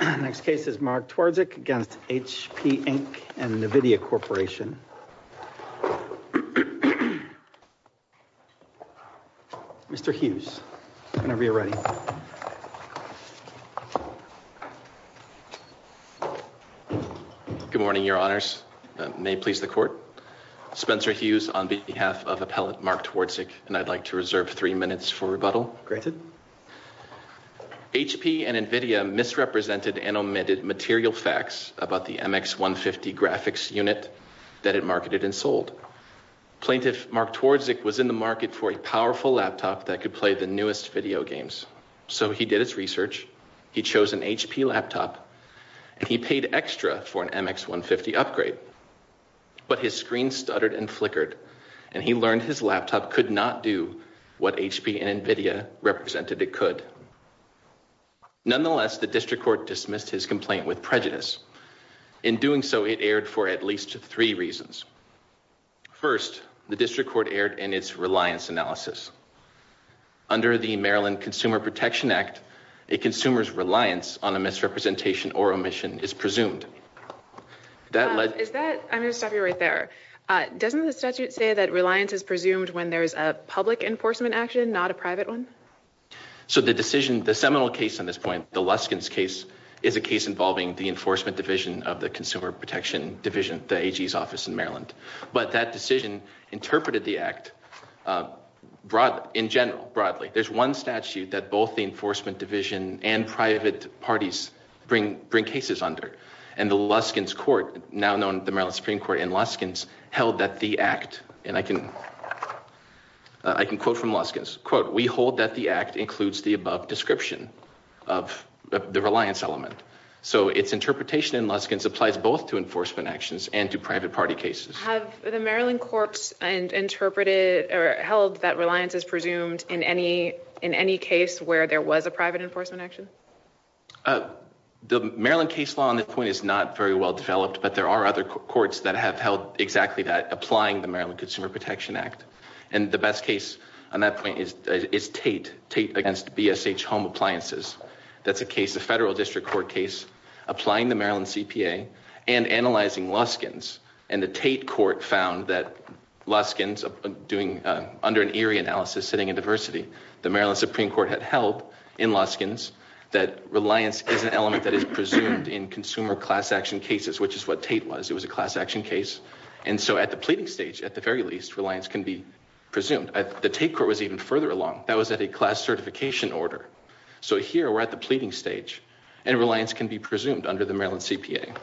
Next case is Mark Twardzik against HP Inc and NVIDIA Corporation. Mr. Hughes whenever you're ready. Good morning your honors. May it please the court. Spencer Hughes on behalf of appellate Mark Twardzik and I'd like to reserve three minutes for rebuttal. Granted. HP and NVIDIA misrepresented and omitted material facts about the MX150 graphics unit that it marketed and sold. Plaintiff Mark Twardzik was in the market for a powerful laptop that could play the newest video games. So he did his research. He chose an HP laptop and he paid extra for an MX150 upgrade. But his screen stuttered and flickered and he learned his laptop could not do what HP and NVIDIA represented it could. Nonetheless, the district court dismissed his complaint with prejudice. In doing so, it erred for at least three reasons. First, the district court erred in its reliance analysis. Under the Maryland Consumer Protection Act, a consumer's reliance on a misrepresentation or omission is presumed. I'm going to stop you right there. Doesn't the statute say that reliance is presumed when there's a public enforcement action, not a private one? So the decision, the seminal case on this point, the Luskin's case, is a case involving the Enforcement Division of the Consumer Protection Division, the AG's office in Maryland. But that decision interpreted the act in general, broadly. There's one statute that both the Enforcement Division and private parties bring cases under. And the Luskin's court, now known the Maryland Supreme Court and Luskin's, held that the act, and I can quote from Luskin's, quote, we hold that the act includes the above description of the reliance element. So its interpretation in Luskin's applies both to enforcement actions and to private party cases. Have the Maryland courts interpreted or held that reliance is presumed in any case where there was a private enforcement action? The Maryland case law on this point is not very well developed, but there are other courts that have held exactly that, applying the Maryland Consumer Protection Act. And the best case on that point is Tate, Tate against BSH Home Appliances. That's a case, a federal district court case, applying the Maryland CPA and analyzing Luskin's. And the Tate court found that Luskin's doing, under an eerie analysis, sitting in diversity, the Maryland Supreme Court had held in Luskin's that reliance is an element that is presumed in consumer class action cases, which is what Tate was. It was a class action case. And so at the pleading stage, at the very least, reliance can be presumed. The Tate court was even further along. That was at a class certification order. So here we're at the pleading stage and reliance can be presumed under the Maryland CPA.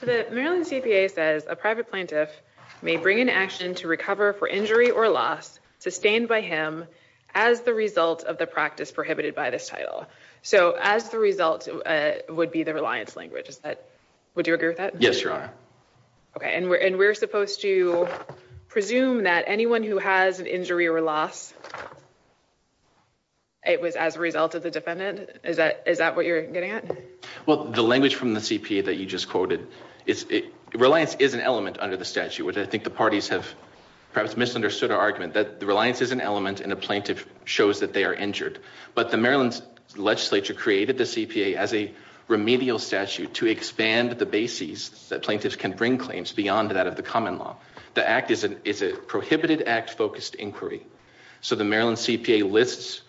So the Maryland CPA says a private plaintiff may bring an action to recover for injury or loss sustained by him as the result of the practice prohibited by this title. So as the result would be the reliance language. Is that, would you agree with that? Yes, Your Honor. Okay. And we're, and we're supposed to presume that anyone who has an injury or loss, it was as a result of the defendant. Is that, is that what you're getting at? Well, the language from the CPA that you just quoted is reliance is an element under the statute, which I think the parties have perhaps misunderstood our argument that the reliance is an element and a plaintiff shows that they are injured. But the Maryland legislature created the CPA as a remedial statute to expand the bases that plaintiffs can bring claims beyond that of the common law. The act is an, is a prohibited act focused inquiry. So the Maryland CPA lists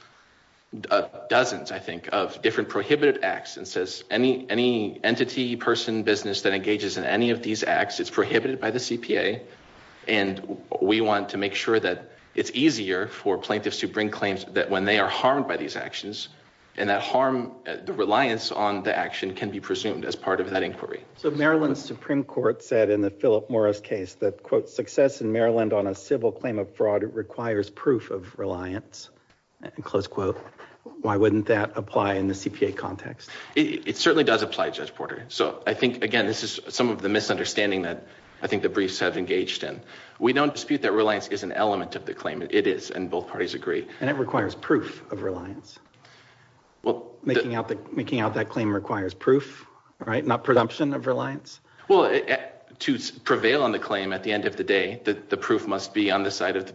dozens, I think of different prohibited acts and says any, any entity person business that engages in any of these acts, it's prohibited by the CPA. And we want to make sure that it's easier for plaintiffs to bring claims that when they are harmed by these actions and that harm the reliance on the action can be presumed as part of that inquiry. So Maryland Supreme Court said in the Philip Morris case that quote, success in Maryland on a civil claim of fraud requires proof of reliance and close quote. Why wouldn't that apply in the CPA context? It certainly does apply Judge Porter. So I think, again, this is some of the misunderstanding that I think the briefs have engaged in. We don't dispute that reliance is an element of the claim. And both parties agree. And it requires proof of reliance. Well, Making out the, making out that claim requires proof, right? Not presumption of reliance. Well, to prevail on the claim at the end of the day, the proof must be on the side of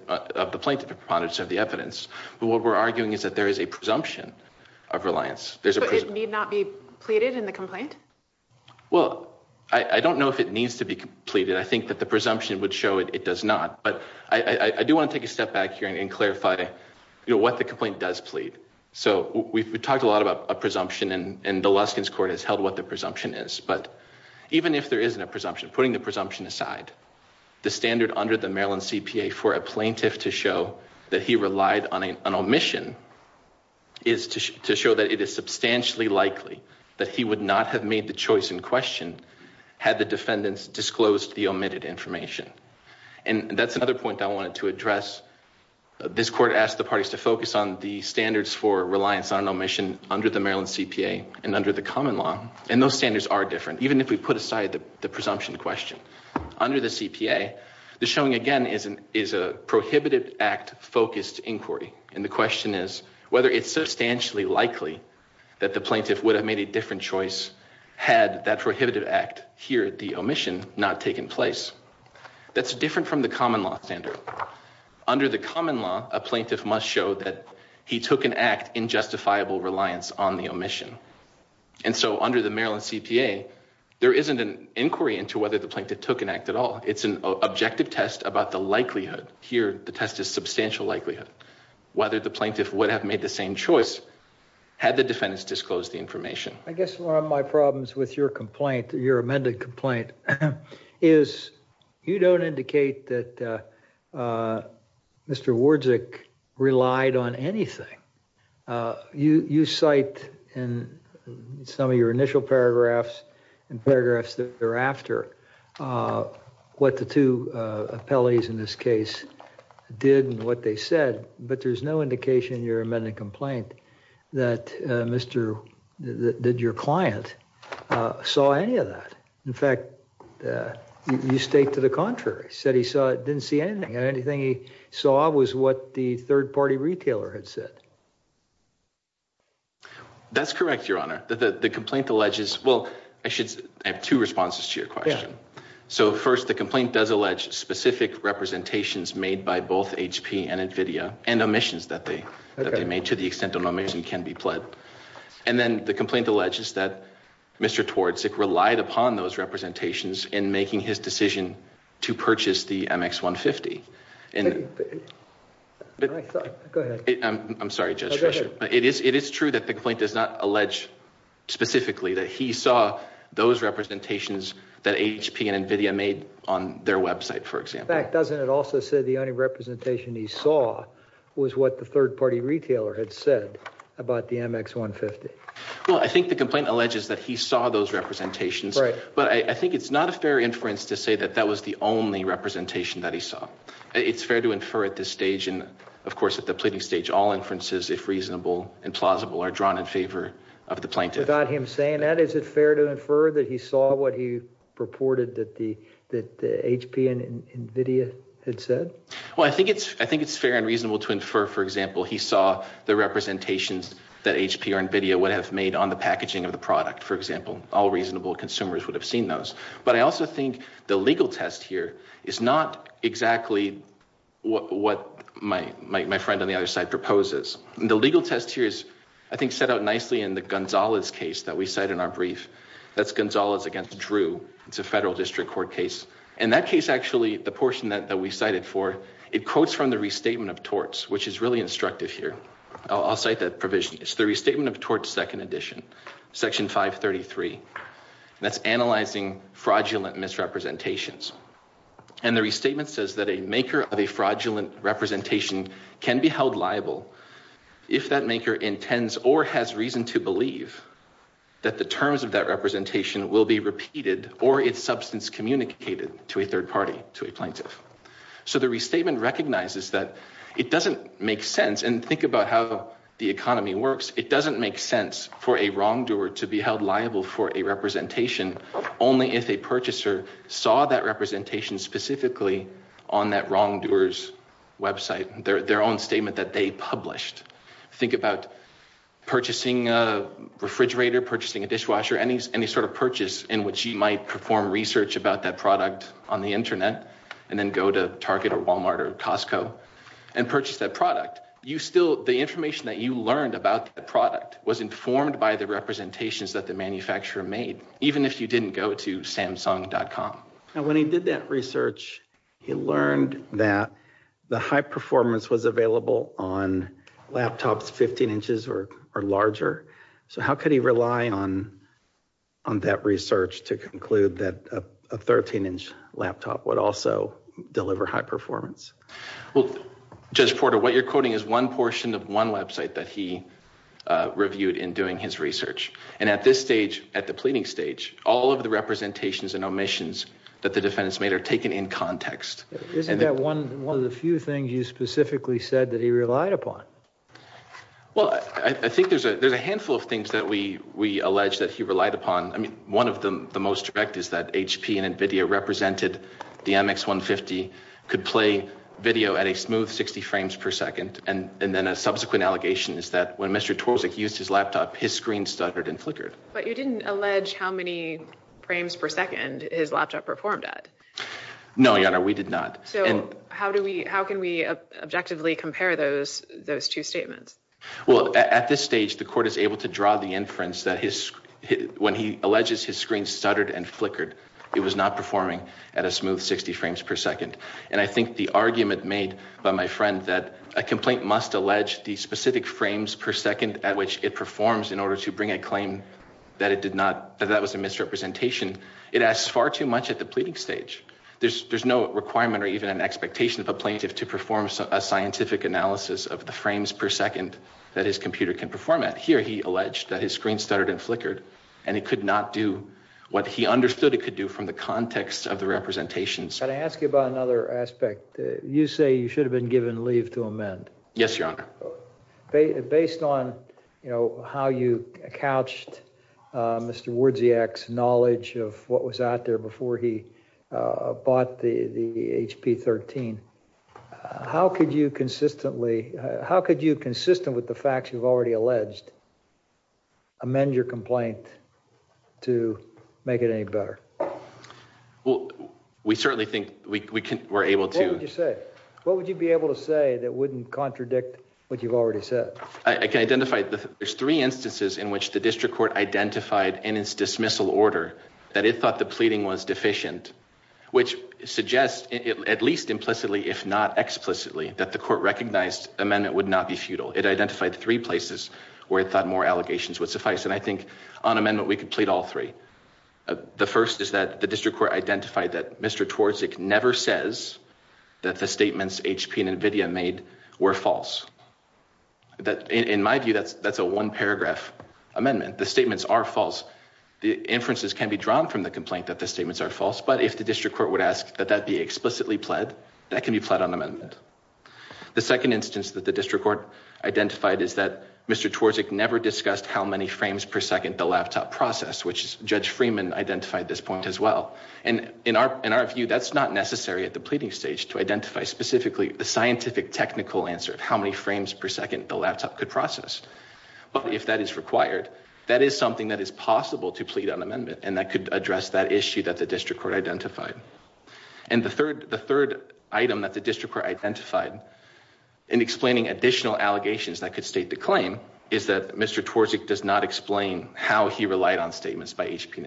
the plaintiff proponents of the evidence. But what we're arguing is that there is a presumption of reliance. So it need not be pleaded in the complaint? Well, I don't know if it needs to be pleaded. I think that the presumption would show it does not. But I do want to take a step back here and clarify what the complaint does plead. So we've talked a lot about a presumption and the Luskin's court has held what the presumption is, but even if there isn't a presumption, putting the presumption aside, the standard under the Maryland CPA for a plaintiff to show that he relied on an omission is to show that it is substantially likely that he would not have made the choice in question had the defendants disclosed the omitted information. And that's another point I wanted to address. This court asked the parties to focus on the standards for reliance on omission under the Maryland CPA and under the common law. And those standards are different. Even if we put aside the presumption question under the CPA, the showing again is a prohibited act focused inquiry. And the question is whether it's substantially likely that the plaintiff would have made a different choice had that prohibitive act here at the omission not taken place. That's different from the common law standard. Under the common law, a plaintiff must show that he took an act in justifiable reliance on the omission. And so under the Maryland CPA, there isn't an inquiry into whether the plaintiff took an act at all. It's an objective test about the likelihood here. The test is substantial likelihood whether the plaintiff would have made the same choice had the defendants disclosed the information. I guess one of my problems with your complaint, your amended complaint, is you don't indicate that Mr. Wardzik relied on anything. You cite in some of your initial paragraphs and paragraphs thereafter what the two appellees in this case did and what they said. But there's no indication in your amended complaint that Mr. that your client saw any of that. In fact, you state to the contrary, said he saw didn't see anything and anything he saw was what the third-party retailer had said. That's correct, Your Honor. The complaint alleges, well, I should have two responses to your question. So first, the complaint does allege specific representations made by both HP and NVIDIA and omissions that they made to the extent that an omission can be pledged. And then the complaint alleges that Mr. Wardzik relied upon those representations in making his decision to purchase the MX150. I'm sorry, Judge Fischer. It is true that the complaint does not allege specifically that he saw those representations that HP and NVIDIA made on their website, for example. In fact, doesn't it also say the only representation he saw was what the third-party retailer had said about the MX150? Well, I think the complaint alleges that he saw those representations, but I think it's not a fair inference to say that that was the only representation that he saw. It's fair to infer at this stage and, of course, at the pleading stage, all inferences, if reasonable and plausible, are drawn in favor of the plaintiff. Without him saying that, is it fair to infer that he saw what he reported that the HP and NVIDIA had said? Well, I think it's fair and reasonable to infer, for example, he saw the representations that HP or NVIDIA would have made on the packaging of the product, for example. All reasonable consumers would have seen those. But I also think the legal test here is not exactly what my friend on the other side proposes. The legal test here is, I think, set out nicely in the Gonzalez case that we cite in our brief. That's Gonzalez against Drew. It's a federal district court case. In that case, actually, the portion that we cited for, it quotes from the restatement of torts, which is really instructive here. I'll cite that provision. It's the restatement of torts, second edition, section 533. That's analyzing fraudulent misrepresentations. And the restatement says that a maker of a fraudulent representation can be held liable if that maker intends or has reason to believe that the terms of that representation will be repeated or its substance communicated to a third party, to a plaintiff. So the restatement recognizes that it doesn't make sense. And think about how the economy works. It doesn't make sense for a wrongdoer to be held liable for a that wrongdoer's website, their own statement that they published. Think about purchasing a refrigerator, purchasing a dishwasher, any sort of purchase in which you might perform research about that product on the internet and then go to Target or Walmart or Costco and purchase that product. The information that you learned about the product was informed by the representations that the manufacturer made, even if you didn't go to Samsung.com. Now, when he did that research, he learned that the high performance was available on laptops 15 inches or larger. So how could he rely on that research to conclude that a 13-inch laptop would also deliver high performance? Well, Judge Porter, what you're quoting is one portion of one website that he reviewed in doing his research. And at this stage, at the pleading stage, all of the Isn't that one of the few things you specifically said that he relied upon? Well, I think there's a handful of things that we allege that he relied upon. I mean, one of the most direct is that HP and NVIDIA represented the MX150 could play video at a smooth 60 frames per second. And then a subsequent allegation is that when Mr. Torczyk used his laptop, his screen stuttered and flickered. But you didn't allege how many frames per second his laptop performed at. No, Your Honor, we did not. So how can we objectively compare those two statements? Well, at this stage, the court is able to draw the inference that when he alleges his screen stuttered and flickered, it was not performing at a smooth 60 frames per second. And I think the argument made by my friend that a complaint must allege the specific frames per second at which it performs in order to bring a claim that it did not, that that was a misrepresentation. It asks far too much at the pleading stage. There's no requirement or even an expectation of a plaintiff to perform a scientific analysis of the frames per second that his computer can perform at. Here, he alleged that his screen stuttered and flickered and it could not do what he understood it could do from the context of the representations. Can I ask you about another aspect? You say you should have been given leave to amend. Yes, Your Honor. Based on, you know, how you couched Mr. Werdziak's knowledge of what was out there before he bought the HP-13, how could you consistently, how could you, consistent with the facts you've already alleged, amend your complaint to make it any better? Well, we certainly think we can, we're able to. What would you be able to say that wouldn't contradict what you've already said? I can identify, there's three instances in which the district court identified in its dismissal order that it thought the pleading was deficient, which suggests, at least implicitly, if not explicitly, that the court recognized amendment would not be futile. It identified three places where it thought more allegations would suffice, and I think on amendment we could plead all three. The first is that the district court identified that Mr. Twardzik never says that the statements HP and NVIDIA made were false. That, in my view, that's a one-paragraph amendment. The statements are false. The inferences can be drawn from the complaint that the statements are false, but if the district court would ask that that be explicitly pled, that can be pled on amendment. The second instance that the district court identified is that Mr. Twardzik never discussed how many frames per second the laptop processed, which Judge Freeman identified this point as well. In our view, that's not necessary at the pleading stage to identify specifically the scientific, technical answer of how many frames per second the laptop could process, but if that is required, that is something that is possible to plead on amendment, and that could address that issue that the district court identified. And the third item that the district court identified in explaining additional allegations that could state the claim is that Mr. Twardzik does not HP and NVIDIA.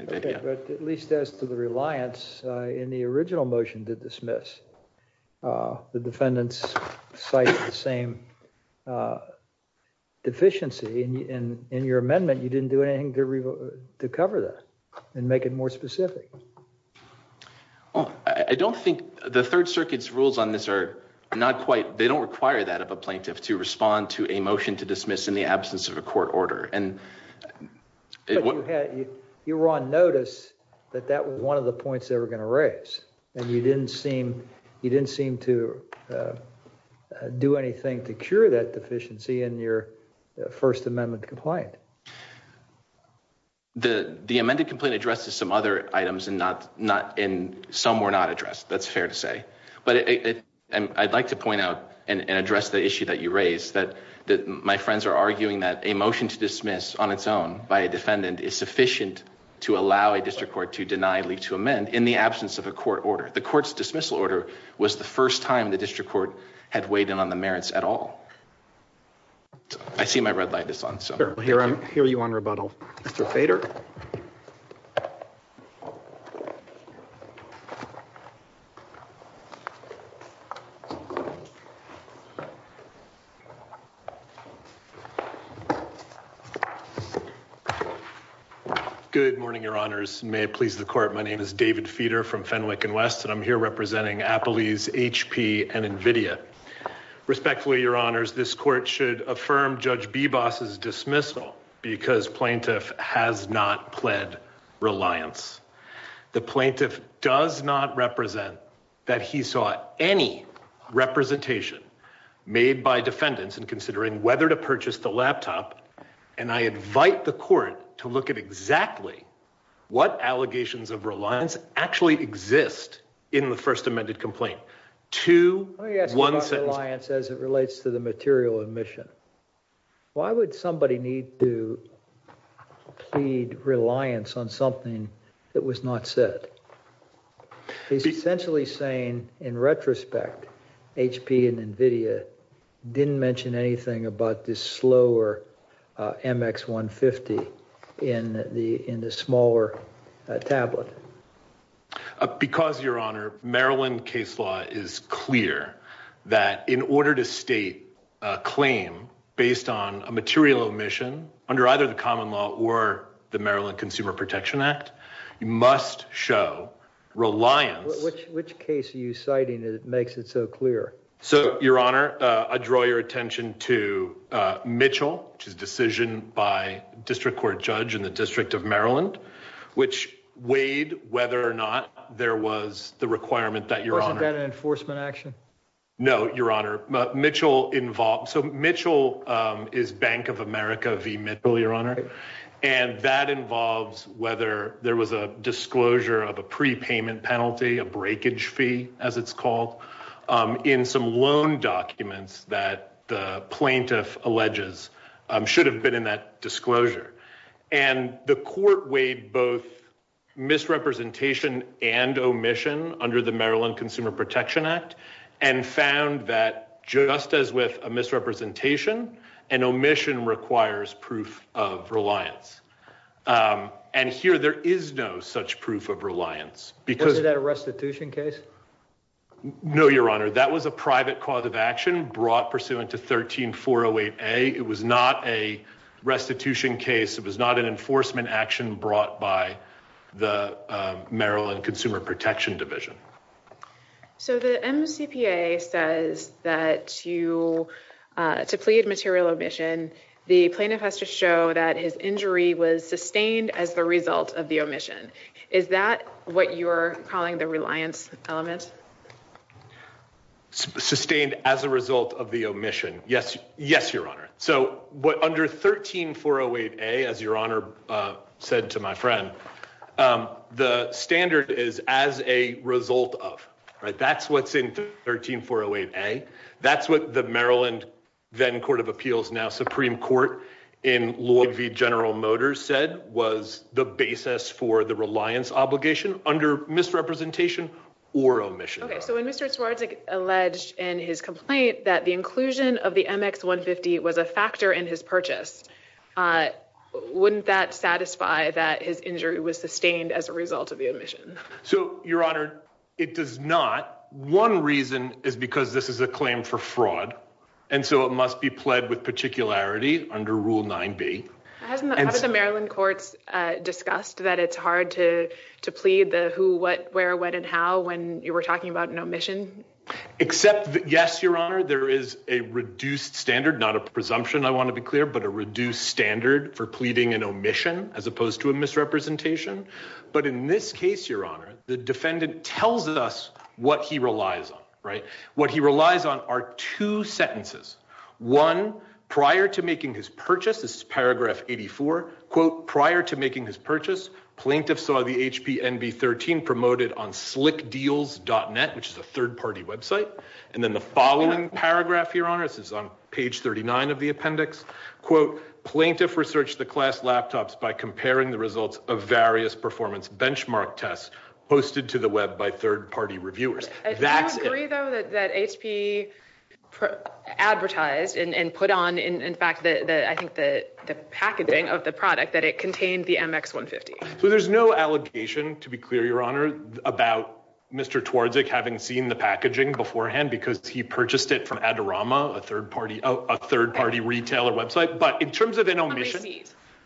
Okay, but at least as to the reliance in the original motion to dismiss, the defendants cite the same deficiency in your amendment. You didn't do anything to cover that and make it more specific. Well, I don't think the Third Circuit's rules on this are not quite, they don't require that of a plaintiff to respond to a motion to dismiss in absence of a court order. But you had, you were on notice that that was one of the points they were going to raise, and you didn't seem, you didn't seem to do anything to cure that deficiency in your first amendment complaint. The amended complaint addresses some other items and not, not in, some were not addressed, that's fair to say. But I'd like to point out and address the issue that you raised, that my friends are arguing that a motion to dismiss on its own by a defendant is sufficient to allow a district court to deny leave to amend in the absence of a court order. The court's dismissal order was the first time the district court had weighed in on the issue. Good morning, your honors. May it please the court, my name is David Feeder from Fenwick and West, and I'm here representing Appalese HP and NVIDIA. Respectfully, your honors, this court should affirm Judge Bebas's dismissal because plaintiff has not pled reliance. The plaintiff does not that he sought any representation made by defendants in considering whether to purchase the laptop, and I invite the court to look at exactly what allegations of reliance actually exist in the first amended complaint. Two, one sentence. Let me ask you about reliance as it relates to the material admission. Why would somebody need to plead reliance on something that was not said? He's essentially saying, in retrospect, HP and NVIDIA didn't mention anything about this slower MX150 in the smaller tablet. Because, your honor, Maryland case law is clear that in order to state a claim based on a material omission under either the common law or the Maryland Consumer Protection Act, you must show reliance. Which case are you citing that makes it so clear? So, your honor, I draw your attention to Mitchell, which is a decision by a district court judge in the District of Maryland, which weighed whether or not there was the requirement that your honor. Wasn't that an v. Mitchell, your honor? And that involves whether there was a disclosure of a prepayment penalty, a breakage fee, as it's called, in some loan documents that the plaintiff alleges should have been in that disclosure. And the court weighed both misrepresentation and omission under the Maryland Consumer Protection Act and found that just as with a misrepresentation, an omission requires proof of reliance. And here there is no such proof of reliance. Wasn't that a restitution case? No, your honor. That was a private cause of action brought pursuant to 13-408A. It was not a restitution case. It was not an enforcement action brought by the Maryland Consumer Protection Division. So, the MCPA says that to plead material omission, the plaintiff has to show that his injury was sustained as the result of the omission. Is that what you're calling the reliance element? Sustained as a result of the omission. Yes, your honor. So, what under 13-408A, as your honor said to my friend, the standard is as a result of, right? That's what's in 13-408A. That's what the Maryland then Court of Appeals, now Supreme Court, in Lloyd v. General Motors said was the basis for the reliance obligation under misrepresentation or omission. Okay. So, when Mr. Swartz alleged in his complaint that the inclusion of the MX-150 was a factor in his purchase, wouldn't that satisfy that his injury was sustained as a result of the omission? So, your honor, it does not. One reason is because this is a claim for fraud. And so, it must be pled with particularity under Rule 9B. Haven't the Maryland courts discussed that it's hard to plead the who, what, where, when, and how when you were talking about an omission? Except, yes, your honor, there is a reduced standard, not a presumption, I want to be clear, but a reduced standard for pleading an omission as opposed to a misrepresentation. But in this case, your honor, the defendant tells us what he relies on, right? What he relies on are two sentences. One, prior to making his purchase, this is paragraph 84, quote, prior to making his purchase, plaintiff saw the HP-NB13 promoted on slickdeals.net, which is a third-party website. And then the following paragraph, your honor, this is on page 39 of the appendix, quote, plaintiff researched the class laptops by comparing the results of various performance benchmark tests posted to the web by third-party reviewers. Do you agree, though, that HP advertised and put on, in fact, I think the packaging of the product, that it contained the MX150? So there's no allegation, to be clear, your honor, about Mr. Twardzik having seen the packaging beforehand because he purchased it from Adorama, a third-party retailer website. But in terms of an omission,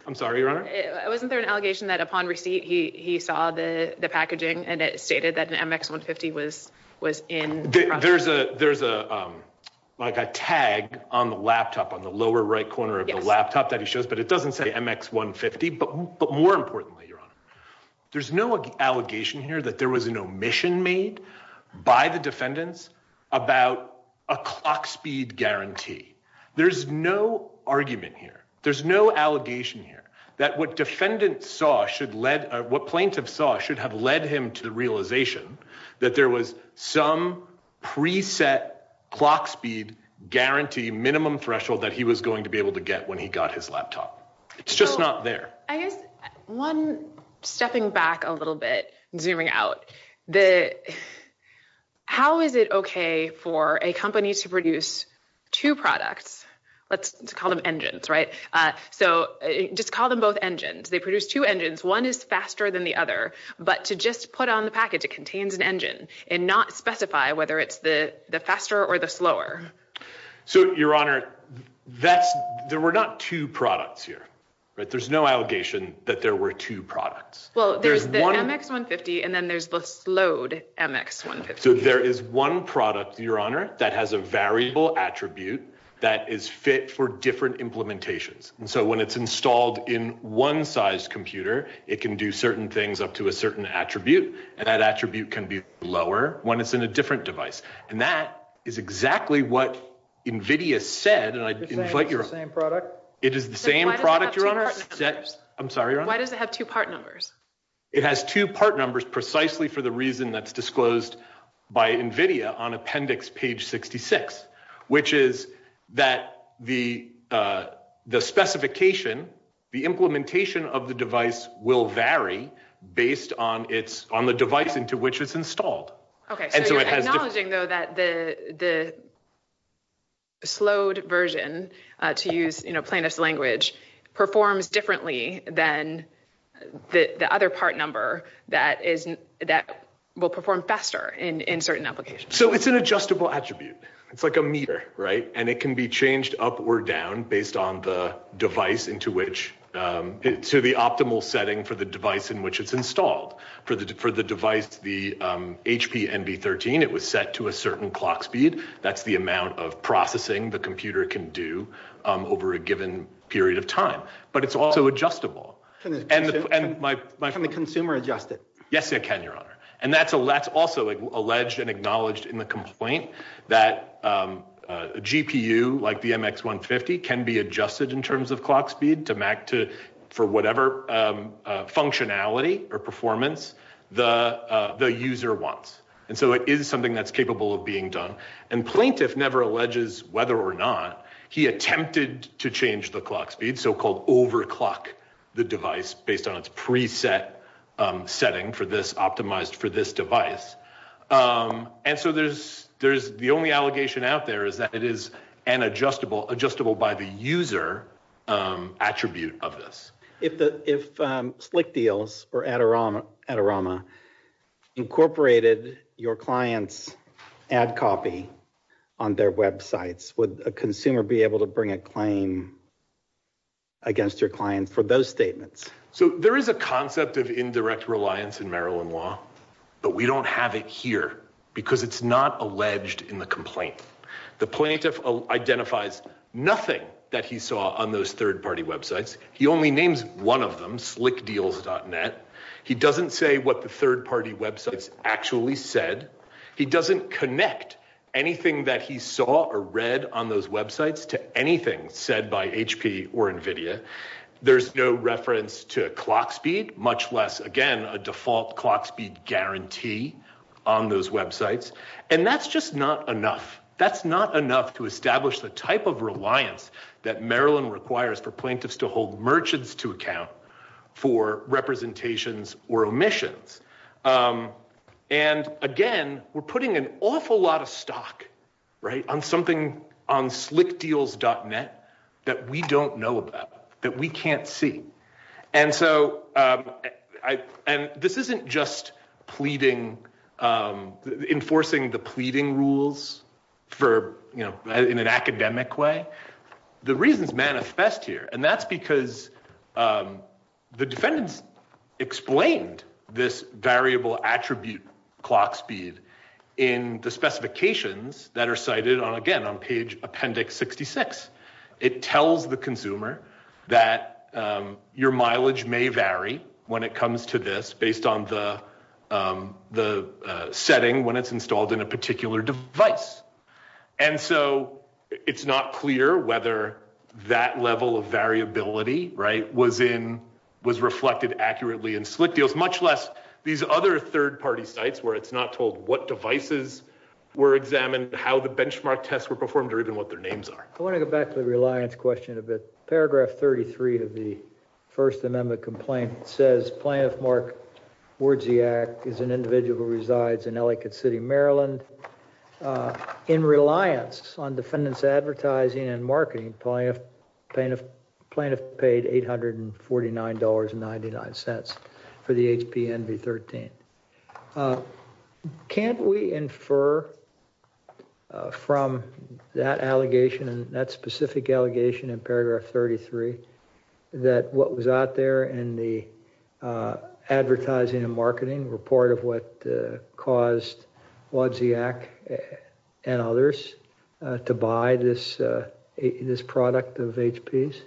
I'm sorry, your honor? Wasn't there an allegation that upon receipt, he saw the packaging and it stated that an MX150 was There's a tag on the laptop, on the lower right corner of the laptop that he shows, but it doesn't say MX150. But more importantly, your honor, there's no allegation here that there was an omission made by the defendants about a clock speed guarantee. There's no argument here. There's no allegation here that what defendant saw should lead, what plaintiff saw should have led him to the realization that there was some preset clock speed guarantee minimum threshold that he was going to be able to get when he got his laptop. It's just not there. So I guess, one, stepping back a little bit, zooming out, how is it okay for a company to produce two products, let's call them engines, right? So just call them both engines. They put on the package, it contains an engine and not specify whether it's the faster or the slower. So your honor, there were not two products here, right? There's no allegation that there were two products. Well, there's the MX150 and then there's the slowed MX150. So there is one product, your honor, that has a variable attribute that is fit for different implementations. And so when it's installed in one size computer, it can do certain things up to a certain attribute. And that attribute can be lower when it's in a different device. And that is exactly what NVIDIA said. It is the same product? It is the same product, your honor. I'm sorry, your honor. Why does it have two part numbers? It has two part numbers precisely for the reason that's disclosed by NVIDIA on appendix page 66, which is that the specification, the implementation of the device will vary based on the device into which it's installed. Okay, so you're acknowledging though that the slowed version, to use plainest language, performs differently than the other part number that will perform faster in certain applications? So it's an adjustable attribute. It's like a meter, right? And it can be changed up or down based on the device into which, to the optimal setting for the device in which it's installed. For the device, the HP NV13, it was set to a certain clock speed. That's the amount of processing the computer can do over a given period of time. But it's also adjustable. Can the consumer adjust it? Yes, it can, your honor. And that's also alleged and acknowledged in the complaint that a GPU like the MX150 can be adjusted in terms of clock speed to MAC for whatever functionality or performance the user wants. And so it is something that's capable of being done. And plaintiff never alleges whether or not he attempted to change the clock speed, so-called overclock, the device based on its preset setting optimized for this device. And so the only allegation out there is that it is an adjustable by the user attribute of this. If Slick Deals or Adorama incorporated your client's ad copy on their websites, would a consumer be able to bring a claim against your client for those statements? So there is a concept of indirect reliance in Maryland law, but we don't have it here because it's not alleged in the complaint. The plaintiff identifies nothing that he saw on those third-party websites. He only names one of them, slickdeals.net. He doesn't say what the third-party websites actually said. He doesn't connect anything that he saw or read on those websites to anything said by HP or NVIDIA. There's no reference to clock speed, much less, again, a default clock speed guarantee on those websites. And that's just not enough. That's not enough to establish the type of reliance that Maryland requires for plaintiffs to hold merchants to account for representations or omissions. And again, we're putting an awful lot of stock on something on slickdeals.net that we don't know about, that we can't see. And this isn't just enforcing the pleading rules in an academic way. The reasons manifest here, and that's because the defendants explained this variable attribute clock speed in the specifications that are cited on, again, on page Appendix 66. It tells the consumer that your mileage may vary when it comes to this based on the setting when it's installed in a particular device. And so it's not clear whether that level of variability was reflected accurately in slickdeals, much less these other third-party sites where it's not told what devices were examined, how the benchmark tests were performed, or even what their names are. I want to go back to the reliance question a bit. Paragraph 33 of the First Amendment complaint says, Plaintiff Mark Wardziak is an individual who resides in Ellicott City, Maryland. In reliance on defendant's advertising and marketing, plaintiff paid $849.99 for the HP Envy 13. Can't we infer from that allegation and that specific allegation in the advertising and marketing report of what caused Wardziak and others to buy this product of HP's?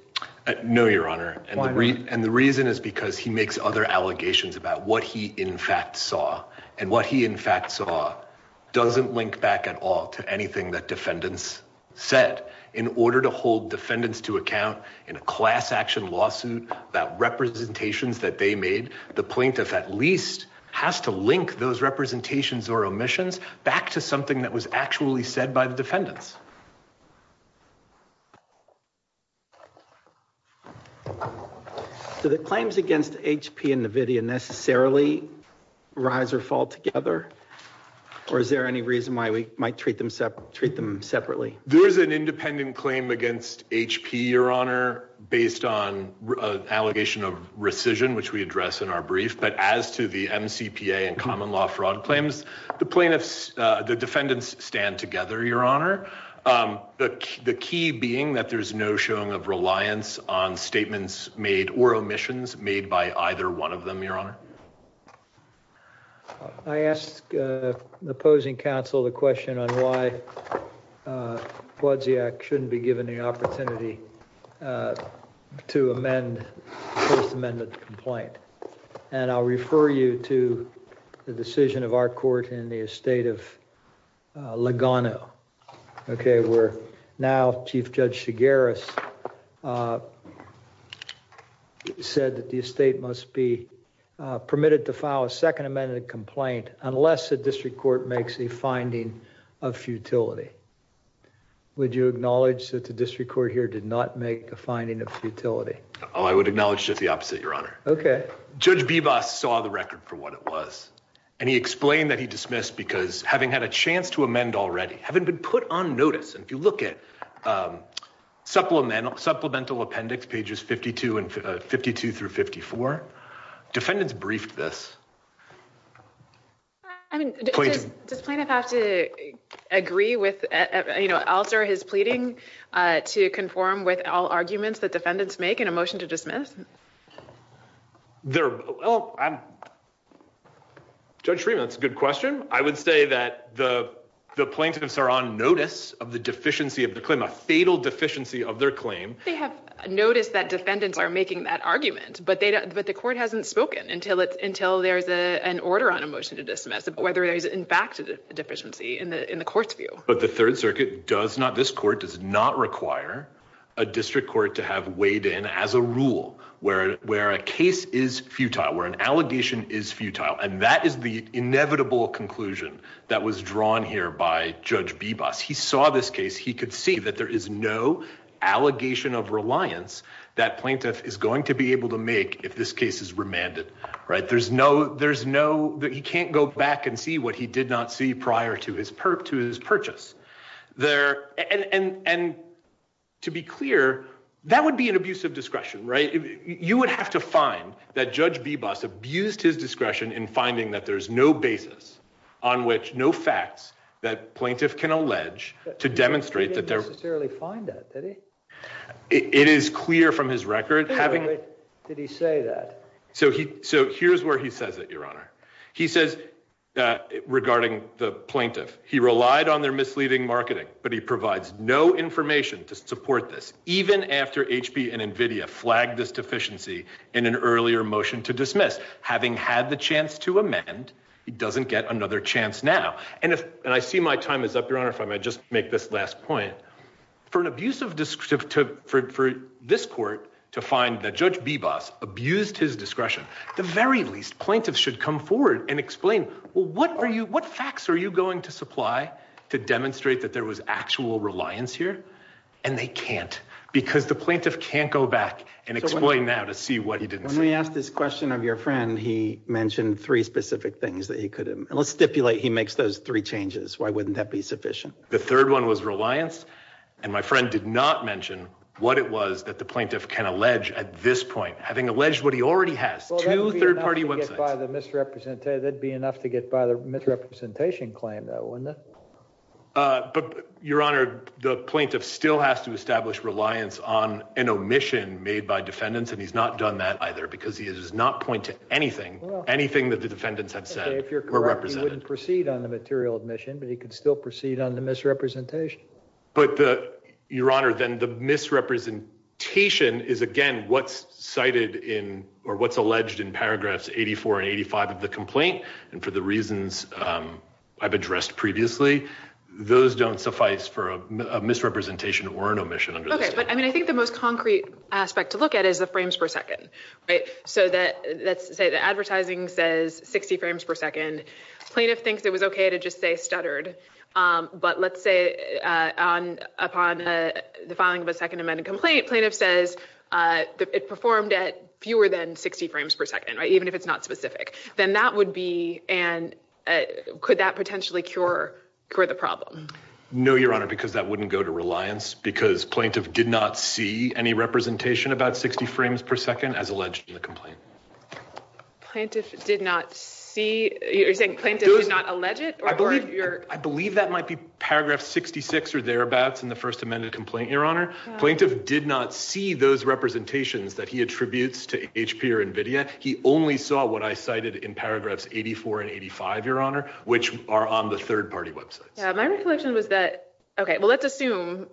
No, Your Honor. And the reason is because he makes other allegations about what he, in fact, saw. And what he, in fact, saw doesn't link back at all to anything that defendants said. In order to hold defendants to account in a class action lawsuit about representations that they made, the plaintiff at least has to link those representations or omissions back to something that was actually said by the defendants. Do the claims against HP and NVIDIA necessarily rise or fall together? Or is there any reason we might treat them separately? There's an independent claim against HP, Your Honor, based on an allegation of rescission, which we address in our brief. But as to the MCPA and common law fraud claims, the defendants stand together, Your Honor. The key being that there's no showing of reliance on statements made or omissions made by either one of them, Your Honor. Your Honor, I ask the opposing counsel the question on why Kwadziak shouldn't be given the opportunity to amend the First Amendment complaint. And I'll refer you to the decision of our court in the estate of Lugano, okay, where now Chief Judge Chigueras said that the estate must be permitted to file a Second Amendment complaint unless the district court makes a finding of futility. Would you acknowledge that the district court here did not make a finding of futility? Oh, I would acknowledge just the opposite, Your Honor. Okay. Judge Bibas saw the record for what it was, and he explained that he dismissed because having had a chance to amend already, having been put on notice, and if you look at supplemental appendix pages 52 through 54, defendants briefed this. I mean, does plaintiff have to agree with, you know, alter his pleading to conform with all arguments that defendants make in a motion to dismiss? There, well, Judge Schreeman, that's a good question. I would say that the plaintiffs are notice of the deficiency of the claim, a fatal deficiency of their claim. They have noticed that defendants are making that argument, but the court hasn't spoken until there's an order on a motion to dismiss, whether there's in fact a deficiency in the court's view. But the Third Circuit does not, this court does not require a district court to have weighed in as a rule where a case is futile, where an allegation is futile, and that is the inevitable conclusion that was drawn here by Judge Bebus. He saw this case. He could see that there is no allegation of reliance that plaintiff is going to be able to make if this case is remanded, right? There's no, there's no, he can't go back and see what he did not see prior to his purchase. There, and to be clear, that would be an abuse of discretion, right? You would have to find that Judge Bebus abused his discretion in finding that there's no basis on which no facts that plaintiff can allege to demonstrate that they're... He didn't necessarily find that, did he? It is clear from his record having... Wait, did he say that? So he, so here's where he says it, Your Honor. He says, regarding the plaintiff, he relied on their misleading marketing, but he provides no information to support this, even after HP and your motion to dismiss. Having had the chance to amend, he doesn't get another chance now. And if, and I see my time is up, Your Honor, if I might just make this last point. For an abuse of discretion, for this court to find that Judge Bebus abused his discretion, at the very least, plaintiffs should come forward and explain, well, what are you, what facts are you going to supply to demonstrate that there was actual reliance here? And they can't, because the plaintiff can't go back and explain now to see what he didn't see. When we asked this question of your friend, he mentioned three specific things that he could, and let's stipulate he makes those three changes. Why wouldn't that be sufficient? The third one was reliance, and my friend did not mention what it was that the plaintiff can allege at this point, having alleged what he already has, two third-party websites. Well, that would be enough to get by the misrepresentation claim, though, wouldn't it? But, Your Honor, the plaintiff still has to establish reliance on an omission made by the plaintiff, because he does not point to anything, anything that the defendants have said. Okay, if you're correct, he wouldn't proceed on the material omission, but he could still proceed on the misrepresentation. But, Your Honor, then the misrepresentation is, again, what's cited in, or what's alleged in paragraphs 84 and 85 of the complaint, and for the reasons I've addressed previously, those don't suffice for a misrepresentation or an omission under the statute. I think the most concrete aspect to look at is the frames per second. Let's say the advertising says 60 frames per second. Plaintiff thinks it was okay to just say stuttered, but let's say upon the filing of a second amended complaint, plaintiff says it performed at fewer than 60 frames per second, even if it's not specific. Then that would be, and could that potentially cure the problem? No, Your Honor, because that wouldn't go to reliance, because plaintiff did not see any representation about 60 frames per second as alleged in the complaint. Plaintiff did not see, you're saying plaintiff did not allege it? I believe that might be paragraph 66 or thereabouts in the first amended complaint, Your Honor. Plaintiff did not see those representations that he attributes to HP or NVIDIA. He only saw what I cited in paragraphs 84 and 85, Your Honor, which are on the third party websites. My recollection was that, okay, well, let's assume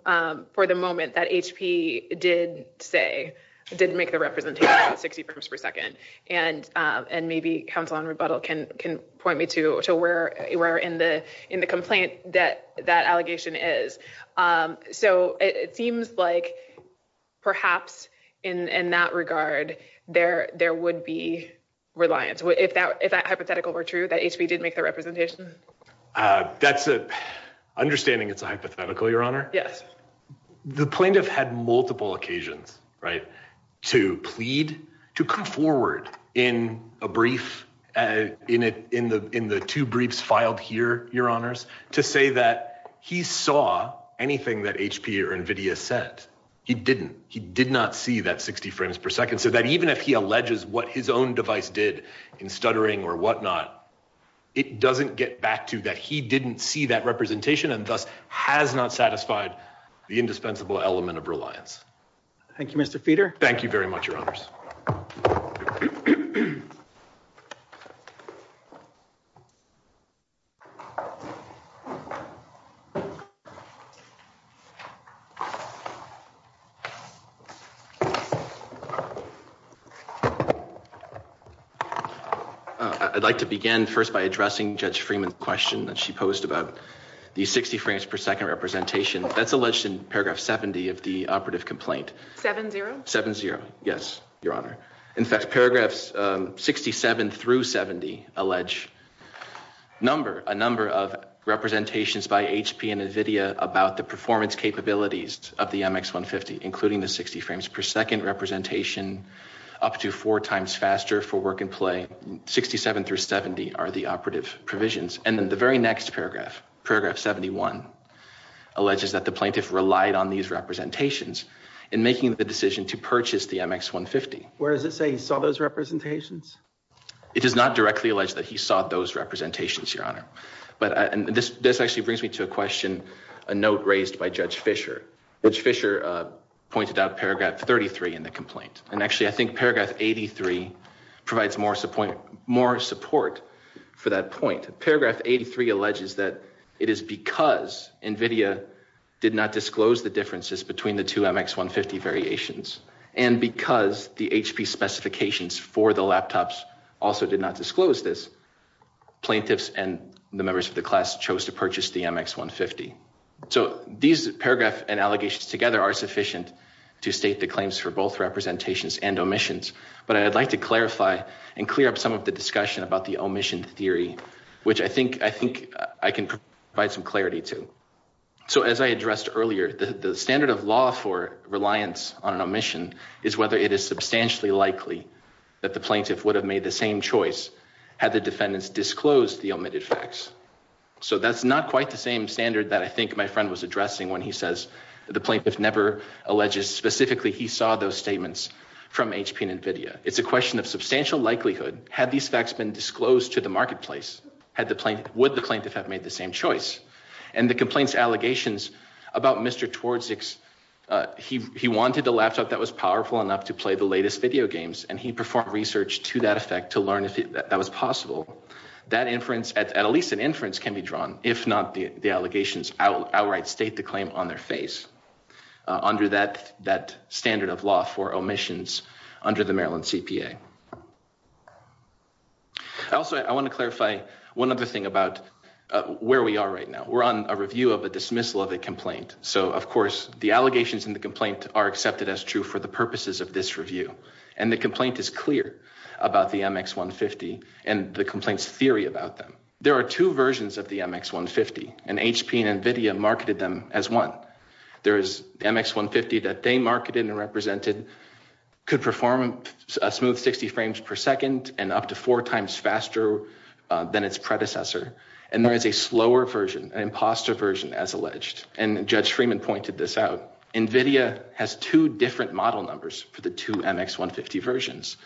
for the moment that HP did say, did make the representation 60 frames per second, and maybe counsel on rebuttal can point me to where in the complaint that that allegation is. It seems like perhaps in that regard, there would be reliance. If that hypothetical were true, that HP did make the representation? Understanding it's a hypothetical, Your Honor, the plaintiff had multiple occasions to plead, to come forward in a brief, in the two briefs filed here, Your Honors, to say that he saw anything that HP or NVIDIA said. He didn't. He did not see that 60 frames per second, so that even if he alleges what his own device did in stuttering or whatnot, it doesn't get back to that. He didn't see that representation and thus has not satisfied the indispensable element of reliance. Thank you, Mr. Feeder. I'd like to begin first by addressing Judge Freeman's question that she posed about the 60 frames per second representation. That's alleged in paragraph 70 of the operative complaint. Seven zero? Seven zero. Yes, Your Honor. In fact, paragraphs 67 through 70 allege a number of representations by HP and NVIDIA about the performance capabilities of the MX150, including the 60 frames per second representation, up to four times faster for work and play. 67 through 70 are the operative provisions. And then the very next paragraph, paragraph 71, alleges that the plaintiff relied on these representations in making the decision to purchase the MX150. Where does it say he saw those representations? It does not directly allege that he saw those representations, Your Honor. But this actually brings me to a question, a note raised by Judge Fischer. Judge Fischer pointed out paragraph 33 in the complaint. And actually, I think paragraph 83 provides more support for that point. Paragraph 83 alleges that it is because NVIDIA did not disclose the differences between the two MX150 variations. And because the HP specifications for the laptops also did not disclose this, plaintiffs and the members of the class chose to purchase the MX150. So these paragraphs and allegations together are sufficient to state the claims for both representations and omissions. But I'd like to clarify and clear up some of the discussion about the omission theory, which I think I can provide some clarity to. So as I addressed earlier, the standard of law for reliance on an omission is whether it is substantially likely that the plaintiff would have made the same choice had the defendants disclosed the omitted facts. So that's not quite the same standard that I think my friend was addressing when he says the plaintiff never alleges specifically he saw those statements from HP and NVIDIA. It's a question of substantial likelihood. Had these facts been disclosed to the allegations about Mr. Twardzyk, he wanted a laptop that was powerful enough to play the latest video games, and he performed research to that effect to learn if that was possible. That inference, at least an inference, can be drawn if not the allegations outright state the claim on their face under that standard of law for omissions under the Maryland CPA. Also, I want to clarify one other thing about where we are right now. We're on a review of a dismissal of a complaint. So, of course, the allegations in the complaint are accepted as true for the purposes of this review. And the complaint is clear about the MX150 and the complaint's theory about them. There are two versions of the MX150, and HP and NVIDIA marketed them as one. There is the MX150 that they marketed and represented could perform a smooth 60 frames per second and up to four times faster than its predecessor. And there is a slower version, an imposter version, as alleged. And Judge Freeman pointed this out. NVIDIA has two different model numbers for the two MX150 versions.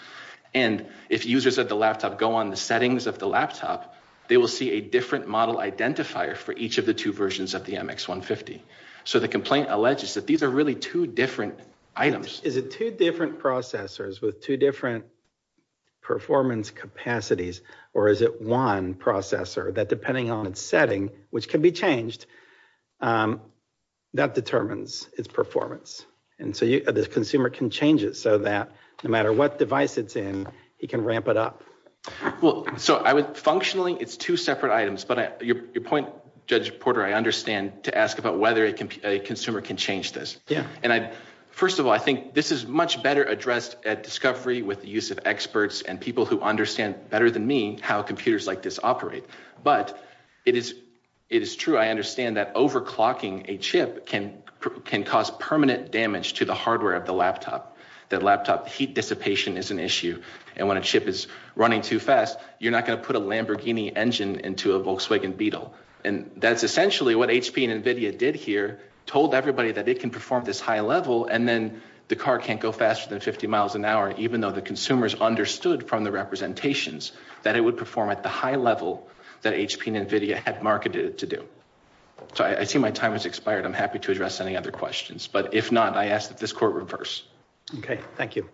And if users of the laptop go on the settings of the laptop, they will see a different model identifier for each of the two versions of the MX150. So the complaint alleges that these are really two different items. Is it two different processors with two different performance capacities, or is it one processor that, depending on its setting, which can be changed, that determines its performance? And so the consumer can change it so that no matter what device it's in, he can ramp it up. Well, so I would, functionally, it's two separate items. But your point, Judge Porter, I understand to ask about whether a consumer can change this. Yeah. First of all, I think this is much better addressed at Discovery with the use of experts and people who understand better than me how computers like this operate. But it is true, I understand that overclocking a chip can cause permanent damage to the hardware of the laptop. The laptop heat dissipation is an issue. And when a chip is running too fast, you're not going to put a Lamborghini engine into a Volkswagen Beetle. And that's essentially what HP and NVIDIA did here, told everybody that it can perform this high level, and then the car can't go faster than 50 miles an hour, even though the consumers understood from the representations that it would perform at the high level that HP and NVIDIA had marketed it to do. So I see my time has expired. I'm happy to address any other questions. But if not, I ask that this court reverse. Okay. Thank you.